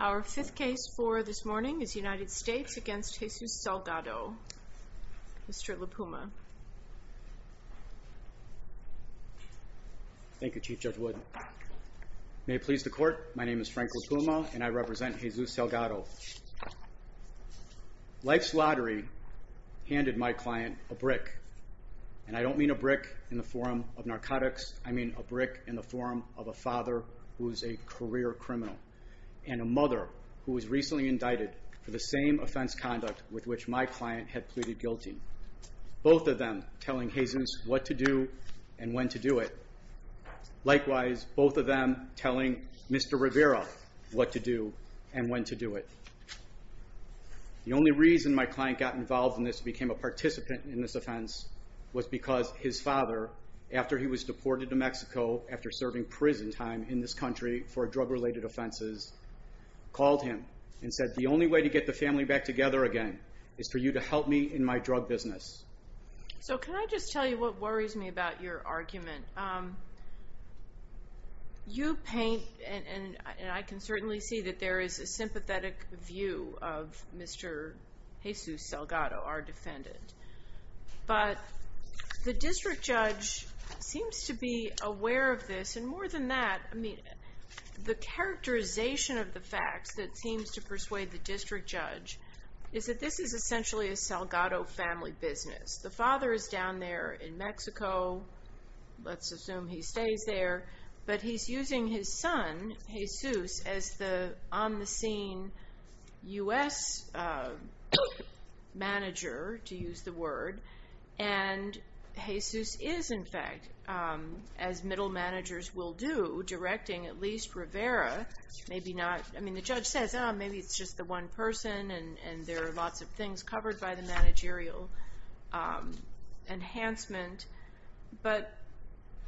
Our fifth case for this morning is United States v. Jesus Salgado. Mr. LaPuma. Thank you, Chief Judge Wood. May it please the Court, my name is Frank LaPuma and I represent the United States Supreme Court. I'm here today to speak on the case of Mr. LaPuma. I'm not a brick in the form of narcotics, I mean a brick in the form of a father who is a career criminal, and a mother who was recently indicted for the same offense conduct with which my client had pleaded guilty. Both of them telling Hazen what to do and when to do it. Likewise, both of them telling Mr. Rivera what to do and when to do it. The only reason my client got involved in this and became a participant in this offense was because his father, after he was deported to Mexico after serving prison time in this country for drug-related offenses, called him and said the only way to get the family back together again is for you to help me in my drug business. So can I just tell you what worries me about your argument? You paint, and I can certainly see that there is a sympathetic view of Mr. Jesus Salgado, our defendant. But the district judge seems to be aware of this, and more than that, the characterization of the facts that seems to persuade the district judge is that this is essentially a Salgado family business. The father is down there in Mexico, let's assume he stays there, but he's using his son, Jesus, as the on-the-scene U.S. manager, to use the word, and Jesus is, in fact, as middle managers will do, directing at least Rivera, maybe not, I mean the judge says maybe it's just the one person and there are lots of things covered by the managerial enhancement, but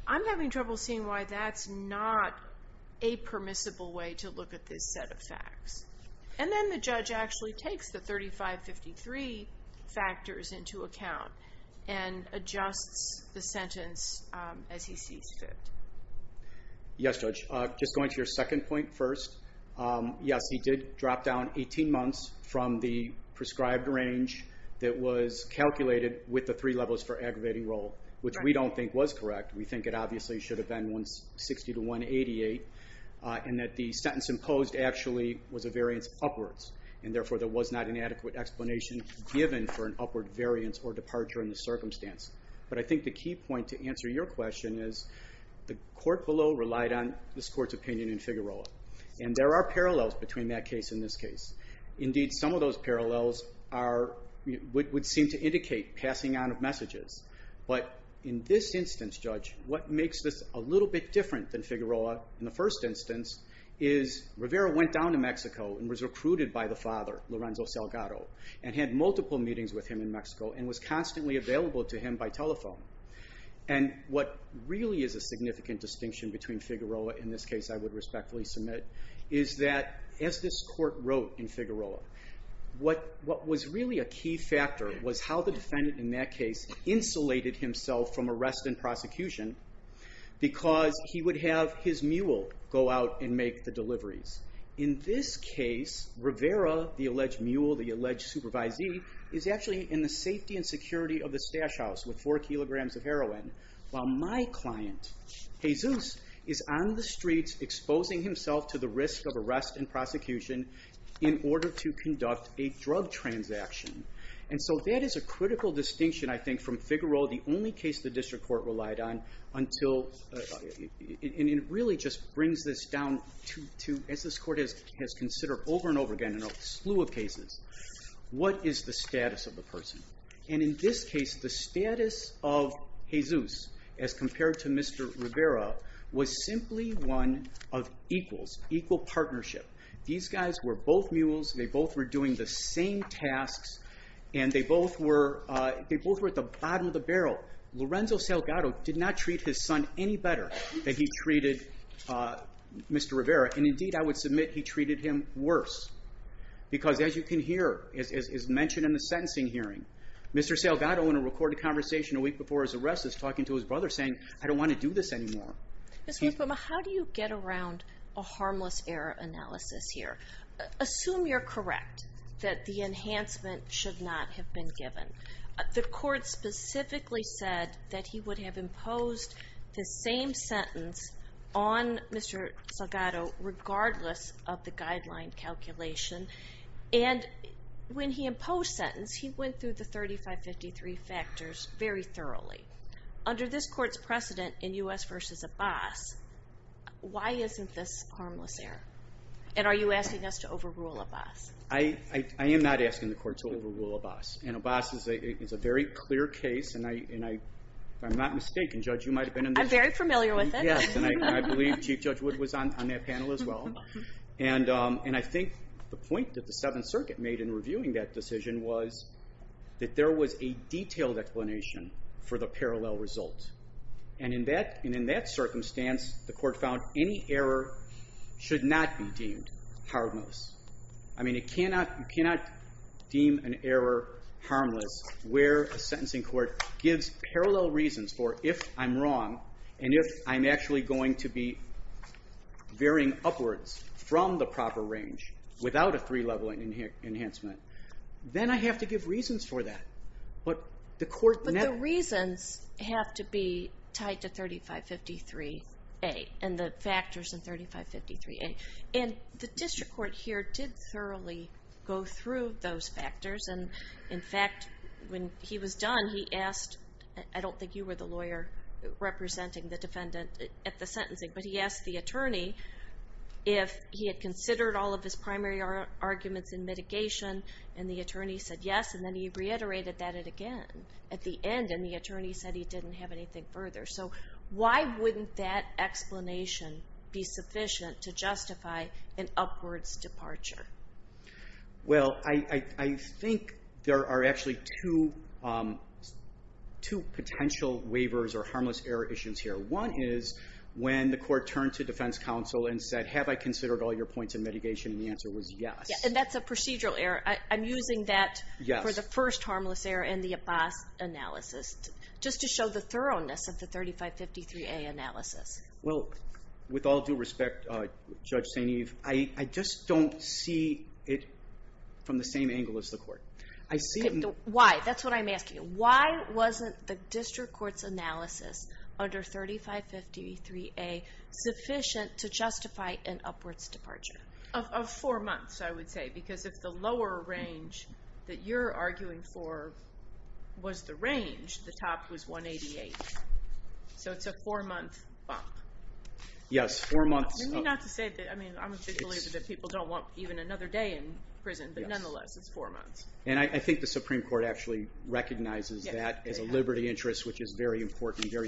I'm having trouble seeing why that's not a permissible way to look at this set of facts. And then the judge actually takes the 35-53 factors into account and adjusts the sentence as he sees fit. Yes, Judge. Just going to your second point first, yes, he did drop down 18 months from the prescribed range that was calculated with the three levels for aggravating role, which we don't think was correct. We think it obviously should have been 160-188, and that the sentence imposed actually was a variance upwards, and therefore there was not an adequate explanation given for an upward variance or departure in the circumstance. But I think the key point to answer your question is the court below relied on this court's opinion in Figueroa, and there are parallels between that case and this case. Indeed, some of those parallels would seem to indicate passing on of messages, but in this instance, Judge, what makes this a little bit different than Figueroa in the first instance is Rivera went down to Mexico and was recruited by the father, Lorenzo Salgado, and had multiple meetings with him in Mexico and was constantly available to him by telephone. And what really is a significant distinction between Figueroa and this case I would respectfully submit is that as this court wrote in Figueroa, what was really a key factor was how the defendant in that case insulated himself from arrest and prosecution because he would have his mule go out and make the deliveries. In this case, Rivera, the alleged mule, the alleged supervisee, is actually in the safety and is on the streets exposing himself to the risk of arrest and prosecution in order to conduct a drug transaction. And so that is a critical distinction, I think, from Figueroa, the only case the district court relied on until, and it really just brings this down to, as this court has considered over and over again in a slew of cases, what is the status of the person? And in this case, the status of Jesus as compared to Mr. Rivera was simply one of equals, equal partnership. These guys were both mules, they both were doing the same tasks, and they both were at the bottom of the barrel. Lorenzo Salgado did not treat his son any better than he treated Mr. Rivera. And indeed, I would submit he treated him worse. Because as you can hear, as mentioned in the sentencing hearing, Mr. Salgado in a recorded conversation a week before his arrest is talking to his brother saying, I don't want to do this anymore. Ms. Lucuma, how do you get around a harmless error analysis here? Assume you're correct that the enhancement should not have been given. The court specifically said that he would have imposed the same sentence on Mr. Salgado regardless of the guideline calculation. And when he imposed sentence, he went through the 3553 factors very thoroughly. Under this court's precedent in U.S. v. Abbas, why isn't this harmless error? And are you asking us to overrule Abbas? I am not asking the court to overrule Abbas. And Abbas is a very clear case, and if I'm not mistaken, Judge, you might have been in this case. I'm very familiar with it. Yes, and I believe Chief Judge Wood was on that panel as well. And I think the point that the Seventh Circuit made in reviewing that decision was that there was a detailed explanation for the parallel result. And in that circumstance, the court found any error should not be deemed harmless. I mean, you cannot deem an error harmless where a sentencing court gives parallel reasons for if I'm wrong and if I'm actually going to be varying upwards from the proper range without a three-level enhancement. Then I have to give reasons for that. But the court never... But the reasons have to be tied to 3553A and the factors in 3553A. And the district court here did thoroughly go through those factors. And in fact, when he was done, he asked, I don't think you were the lawyer representing the defendant at the sentencing, but he asked the attorney if he had considered all of his primary arguments in mitigation. And the attorney said yes, and then he reiterated that again at the end. And the attorney said he didn't have anything further. So why wouldn't that explanation be sufficient to justify an upwards departure? Well, I think there are actually two potential waivers or harmless error issues here. One is when the court turned to defense counsel and said, have I considered all your points in mitigation? And the answer was yes. And that's a procedural error. I'm using that for the first harmless error in the Abbas analysis, just to show the thoroughness of the 3553A analysis. Well, with all due respect, Judge St. Eve, I just don't see it from the same angle as the court. Why? That's what I'm asking. Why wasn't the district court's analysis under 3553A sufficient to justify an upwards departure? Of four months, I would say. Because if the lower range that you're arguing for was the range, the top was 188. So it's a four month bump. Yes, four months. I mean, not to say that, I mean, I'm a big believer that people don't want even another day in prison, but nonetheless, it's four months. And I think the Supreme Court actually recognizes that as a liberty interest, which is very important in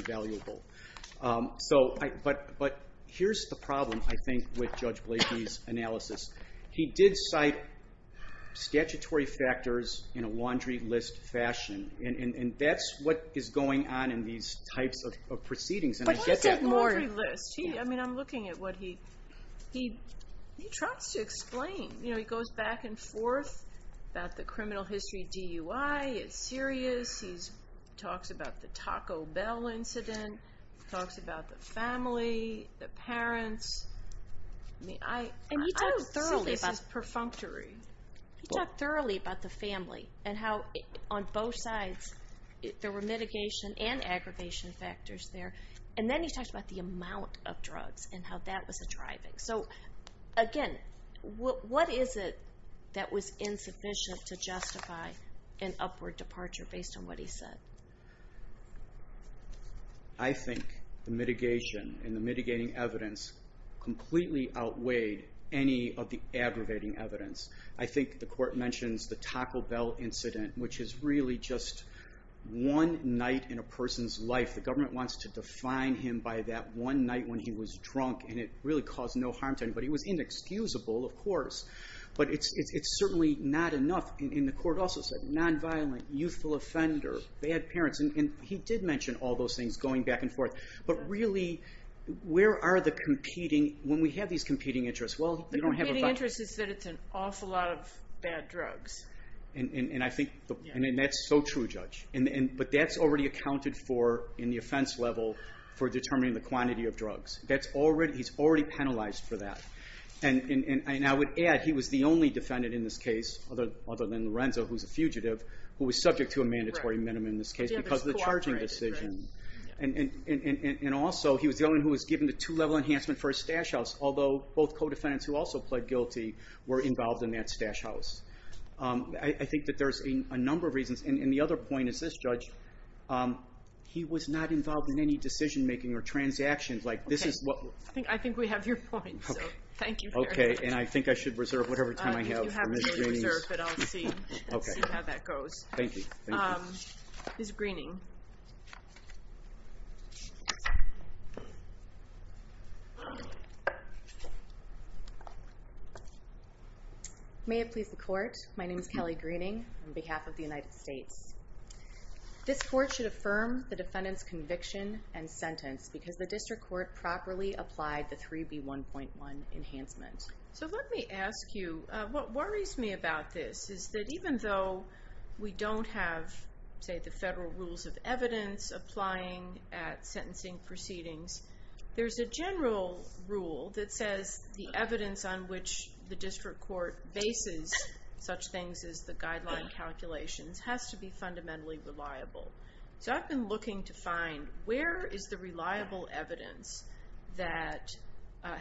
this analysis. He did cite statutory factors in a laundry list fashion. And that's what is going on in these types of proceedings. But what's that laundry list? I mean, I'm looking at what he, he tries to explain. You know, he goes back and forth about the criminal history DUI. It's serious. He talks about the Taco Bell incident. He talks about the family, the parents. I mean, I... And he talks thoroughly about... This is perfunctory. He talked thoroughly about the family and how on both sides there were mitigation and aggravation factors there. And then he talks about the amount of drugs and how that was a driving. So, again, what is it that was insufficient to justify an upward departure based on what he said? I think the mitigation and the mitigating evidence completely outweighed any of the aggravating evidence. I think the court mentions the Taco Bell incident, which is really just one night in a person's life. The government wants to define him by that one night when he was drunk. And it really caused no harm to anybody. It was inexcusable, of course. But it's certainly not enough. And the court also said non-violent, youthful offender, bad parents. And he did mention all those things going back and forth. But really, where are the competing... When we have these competing interests... The competing interest is that it's an awful lot of bad drugs. And I think... And that's so true, Judge. But that's already accounted for in the offense level for determining the quantity of drugs. He's already penalized for that. And I would add, he was the only defendant in this case, other than Lorenzo, who's a fugitive, who was subject to a mandatory minimum in this case because of the charging decision. And also, he was the only one who was given the two-level enhancement for his stash house, although both co-defendants who also pled guilty were involved in that stash house. I think that there's a number of reasons. And the other point is this, Judge. He was not involved in any decision-making or transactions. Like, this is what... I think we have your point, so thank you very much. Okay. And I think I should reserve whatever time I have for Ms. Greening's... I think you have to reserve, but I'll see how that goes. Okay. Thank you. Thank you. Ms. Greening. May it please the Court. My name is Kelly Greening on behalf of the United States. This Court should affirm the defendant's conviction and sentence because the District Court properly applied the 3B1.1 enhancement. So let me ask you, what worries me about this is that even though we don't have, say, the federal rules of evidence applying at sentencing proceedings, there's a general rule that says the evidence on which the District Court bases such things as the guideline calculations has to be fundamentally reliable. So I've been looking to find where is the evidence that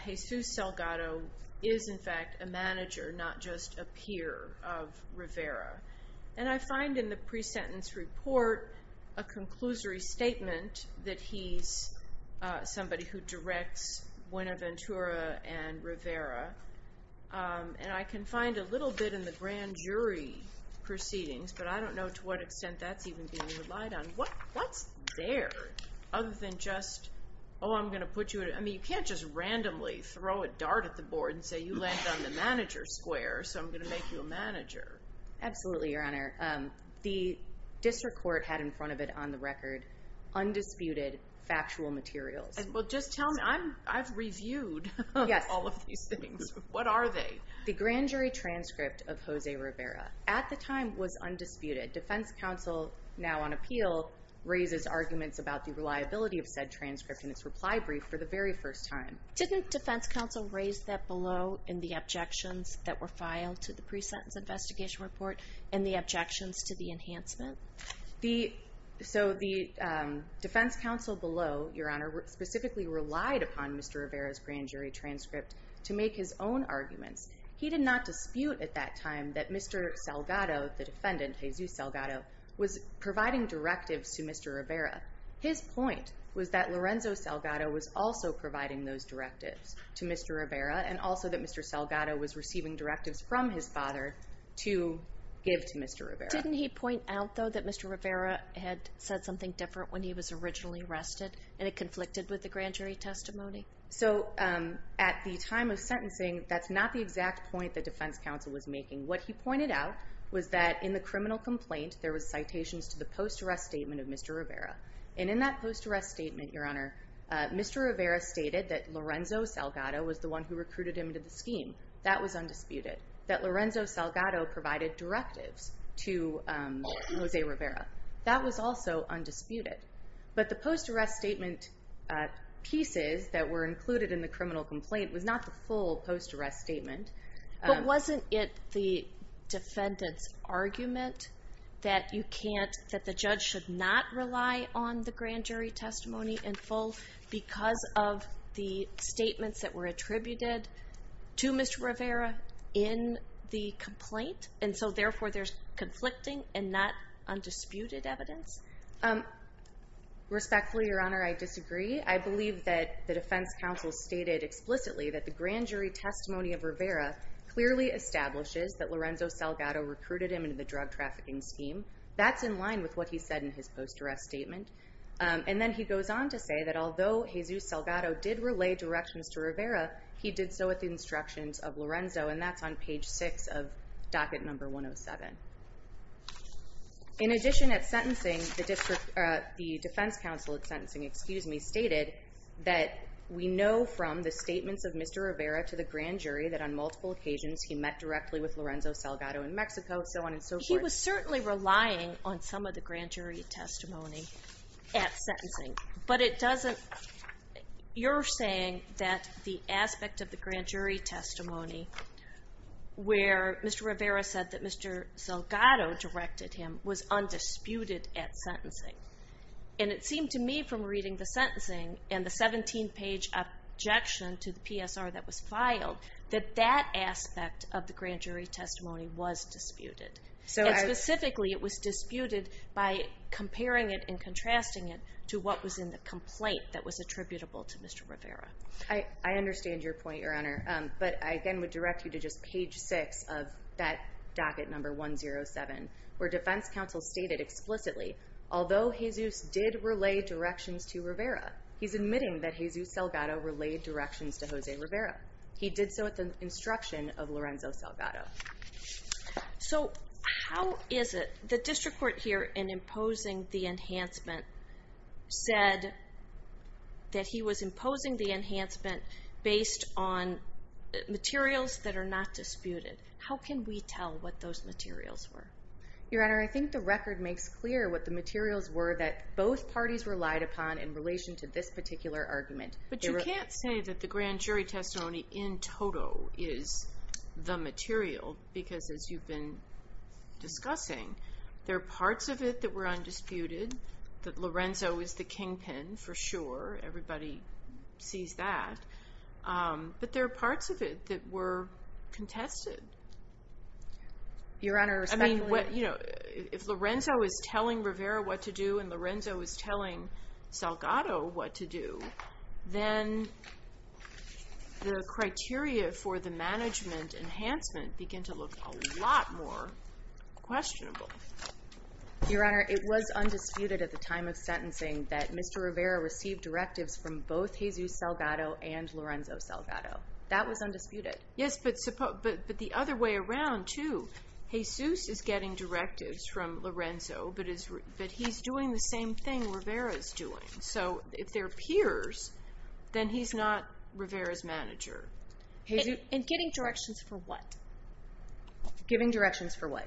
Jesus Salgado is, in fact, a manager, not just a peer of Rivera. And I find in the pre-sentence report a conclusory statement that he's somebody who directs Buenaventura and Rivera. And I can find a little bit in the grand jury proceedings, but I don't know to what extent that's even being relied on. What's there other than just, oh, I'm going to put you, I mean, you can't just randomly throw a dart at the board and say you landed on the manager's square, so I'm going to make you a manager. Absolutely, Your Honor. The District Court had in front of it on the record undisputed factual materials. Well, just tell me, I've reviewed all of these things. What are they? The grand jury transcript of Jose Rivera at the time was undisputed. The defense counsel now on appeal raises arguments about the reliability of said transcript in its reply brief for the very first time. Didn't defense counsel raise that below in the objections that were filed to the pre-sentence investigation report and the objections to the enhancement? So the defense counsel below, Your Honor, specifically relied upon Mr. Rivera's grand jury transcript to make his own arguments. He did not dispute at that time that Mr. Salgado, the defendant, Jesus Salgado, was providing directives to Mr. Rivera. His point was that Lorenzo Salgado was also providing those directives to Mr. Rivera and also that Mr. Salgado was receiving directives from his father to give to Mr. Rivera. Didn't he point out, though, that Mr. Rivera had said something different when he was originally arrested and it conflicted with the grand jury testimony? So at the time of sentencing, that's not the exact point that defense counsel was making. What he pointed out was that in the criminal complaint there was citations to the post-arrest statement of Mr. Rivera. And in that post-arrest statement, Your Honor, Mr. Rivera stated that Lorenzo Salgado was the one who recruited him into the scheme. That was undisputed. That Lorenzo Salgado provided directives to Jose Rivera. That was also undisputed. But the post-arrest statement pieces that were included in the criminal complaint was not the full post-arrest statement. But wasn't it the defendant's argument that the judge should not rely on the grand jury testimony in full because of the statements that were attributed to Mr. Rivera in the complaint? And so therefore there's conflicting and not undisputed evidence? Respectfully, Your Honor, I disagree. I believe that the defense counsel stated explicitly that the grand jury testimony of Rivera clearly establishes that Lorenzo Salgado recruited him into the drug trafficking scheme. That's in line with what he said in his post-arrest statement. And then he goes on to say that although Jesus Salgado did relay directions to Rivera, he did so at the instructions of Lorenzo. And that's on page 6 of docket number 107. In addition at sentencing, the defense counsel at sentencing stated that we know from the statements of Mr. Rivera to the grand jury that on multiple occasions he met directly with Lorenzo Salgado in Mexico, so on and so forth. He was certainly relying on some of the grand jury testimony at sentencing. But it doesn't – you're saying that the aspect of the grand jury testimony where Mr. Rivera said that Mr. Salgado directed him was undisputed at sentencing. And it seemed to me from reading the sentencing and the 17-page objection to the PSR that was filed that that aspect of the grand jury testimony was disputed. And specifically it was disputed by comparing it and contrasting it to what was in the complaint that was attributable to Mr. Rivera. I understand your point, Your Honor. But I again would direct you to just page 6 of that docket number 107 where defense counsel stated explicitly, although Jesus did relay directions to Rivera, he's admitting that Jesus Salgado relayed directions to Jose Rivera. He did so at the instruction of Lorenzo Salgado. So how is it – the district court here in imposing the enhancement said that he was imposing the enhancement based on materials that are not disputed. How can we tell what those materials were? Your Honor, I think the record makes clear what the materials were that both parties relied upon in relation to this particular argument. But you can't say that the grand jury testimony in total is the material because as you've been discussing, there are parts of it that were undisputed, that Lorenzo is the kingpin for sure. Everybody sees that. But there are parts of it that were contested. Your Honor, respectfully – I mean, if Lorenzo is telling Rivera what to do and Lorenzo is telling Salgado what to do, then the criteria for the management enhancement begin to look a lot more questionable. Your Honor, it was undisputed at the time of sentencing that Mr. Rivera received directives from both Jesus Salgado and Lorenzo Salgado. That was undisputed. Yes, but the other way around too. Jesus is getting directives from Lorenzo, but he's doing the same thing Rivera is doing. So if they're peers, then he's not Rivera's manager. And getting directions for what? Giving directions for what?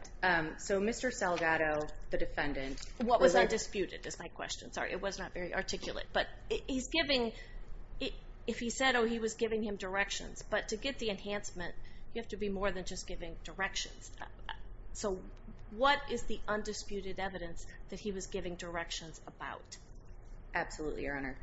So Mr. Salgado, the defendant – What was undisputed is my question. Sorry, it was not very articulate. But if he said, oh, he was giving him directions, but to get the enhancement, you have to be more than just giving directions. So what is the undisputed evidence that he was giving directions about? Absolutely, Your Honor.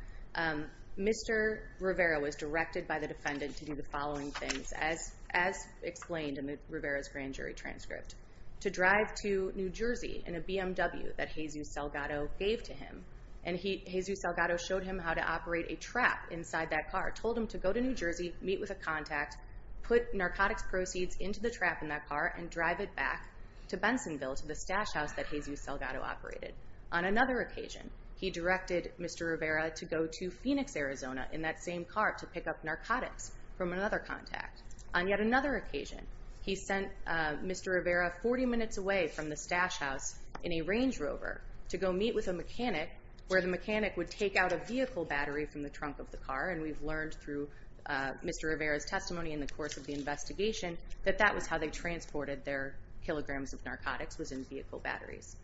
Mr. Rivera was directed by the defendant to do the following things, as explained in Rivera's grand jury transcript, to drive to New Jersey in a BMW that Jesus Salgado gave to him. And Jesus Salgado showed him how to operate a trap inside that car, told him to go to New Jersey, meet with a contact, put narcotics proceeds into the trap in that car, and drive it back to Bensonville to the stash house that Jesus Salgado operated. On another occasion, he directed Mr. Rivera to go to Phoenix, Arizona, in that same car, to pick up narcotics from another contact. On yet another occasion, he sent Mr. Rivera 40 minutes away from the stash house in a Range Rover to go meet with a mechanic, where the mechanic would take out a vehicle battery from the trunk of the car. And we've learned through Mr. Rivera's testimony in the course of the investigation that that was how they transported their kilograms of narcotics, was in vehicle batteries.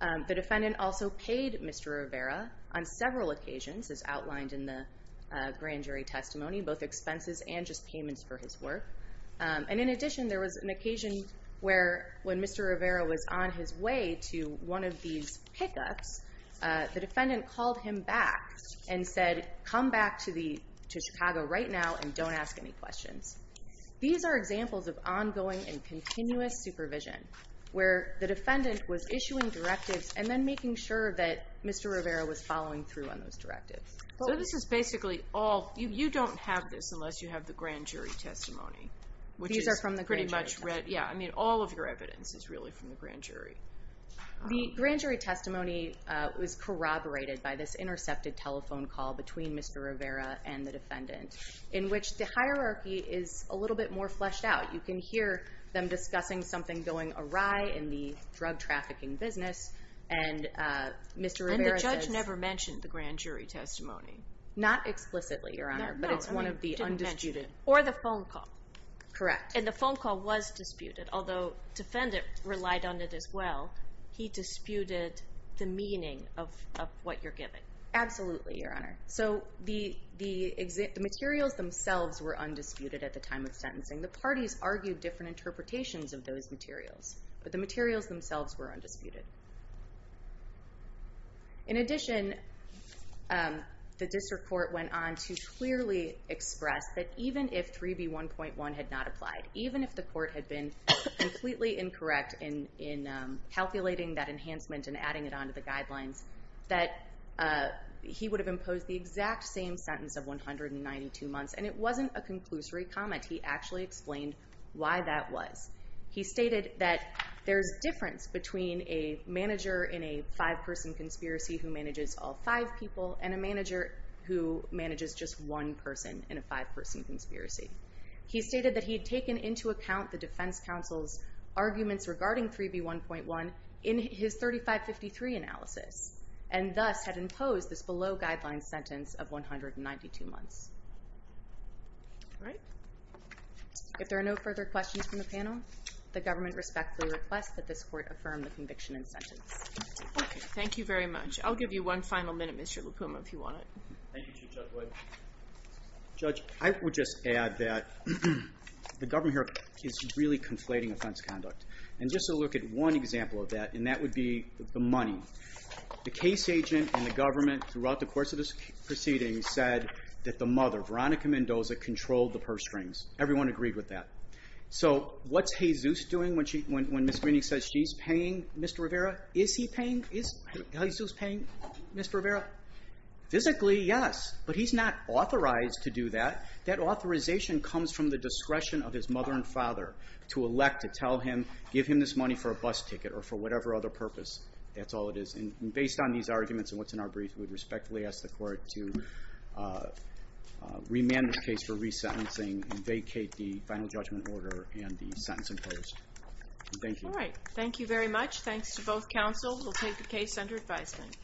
The defendant also paid Mr. Rivera on several occasions, as outlined in the grand jury testimony, both expenses and just payments for his work. And in addition, there was an occasion where, when Mr. Rivera was on his way to one of these pickups, the defendant called him back and said, come back to Chicago right now and don't ask any questions. These are examples of ongoing and continuous supervision, where the defendant was issuing directives and then making sure that Mr. Rivera was following through on those directives. So this is basically all, you don't have this unless you have the grand jury testimony. These are from the grand jury testimony. Yeah, I mean all of your evidence is really from the grand jury. The grand jury testimony was corroborated by this intercepted telephone call between Mr. Rivera and the defendant, in which the hierarchy is a little bit more fleshed out. You can hear them discussing something going awry in the drug trafficking business, And the judge never mentioned the grand jury testimony. Not explicitly, Your Honor, but it's one of the undisputed. Or the phone call. Correct. And the phone call was disputed, although the defendant relied on it as well. He disputed the meaning of what you're giving. Absolutely, Your Honor. So the materials themselves were undisputed at the time of sentencing. The parties argued different interpretations of those materials, but the materials themselves were undisputed. In addition, the district court went on to clearly express that even if 3B1.1 had not applied, even if the court had been completely incorrect in calculating that enhancement and adding it on to the guidelines, that he would have imposed the exact same sentence of 192 months, and it wasn't a conclusory comment. He actually explained why that was. He stated that there's a difference between a manager in a five-person conspiracy who manages all five people, and a manager who manages just one person in a five-person conspiracy. He stated that he had taken into account the defense counsel's arguments regarding 3B1.1 in his 3553 analysis, and thus had imposed this below-guidelines sentence of 192 months. All right. If there are no further questions from the panel, the government respectfully requests that this court affirm the conviction and sentence. Thank you very much. I'll give you one final minute, Mr. LaPuma, if you want it. Thank you, Chief Judge Wood. Judge, I would just add that the government here is really conflating offense conduct. And just to look at one example of that, and that would be the money. The case agent and the government throughout the course of this proceeding said that the mother, Veronica Mendoza, controlled the purse strings. Everyone agreed with that. So what's Jesus doing when Ms. Greenick says she's paying Mr. Rivera? Is he paying? Is Jesus paying Mr. Rivera? Physically, yes. But he's not authorized to do that. That authorization comes from the discretion of his mother and father to elect to tell him, give him this money for a bus ticket or for whatever other purpose. That's all it is. And based on these arguments and what's in our brief, I would respectfully ask the court to remand this case for resentencing and vacate the final judgment order and the sentence imposed. Thank you. All right. Thank you very much. Thanks to both counsel. We'll take the case under advisement.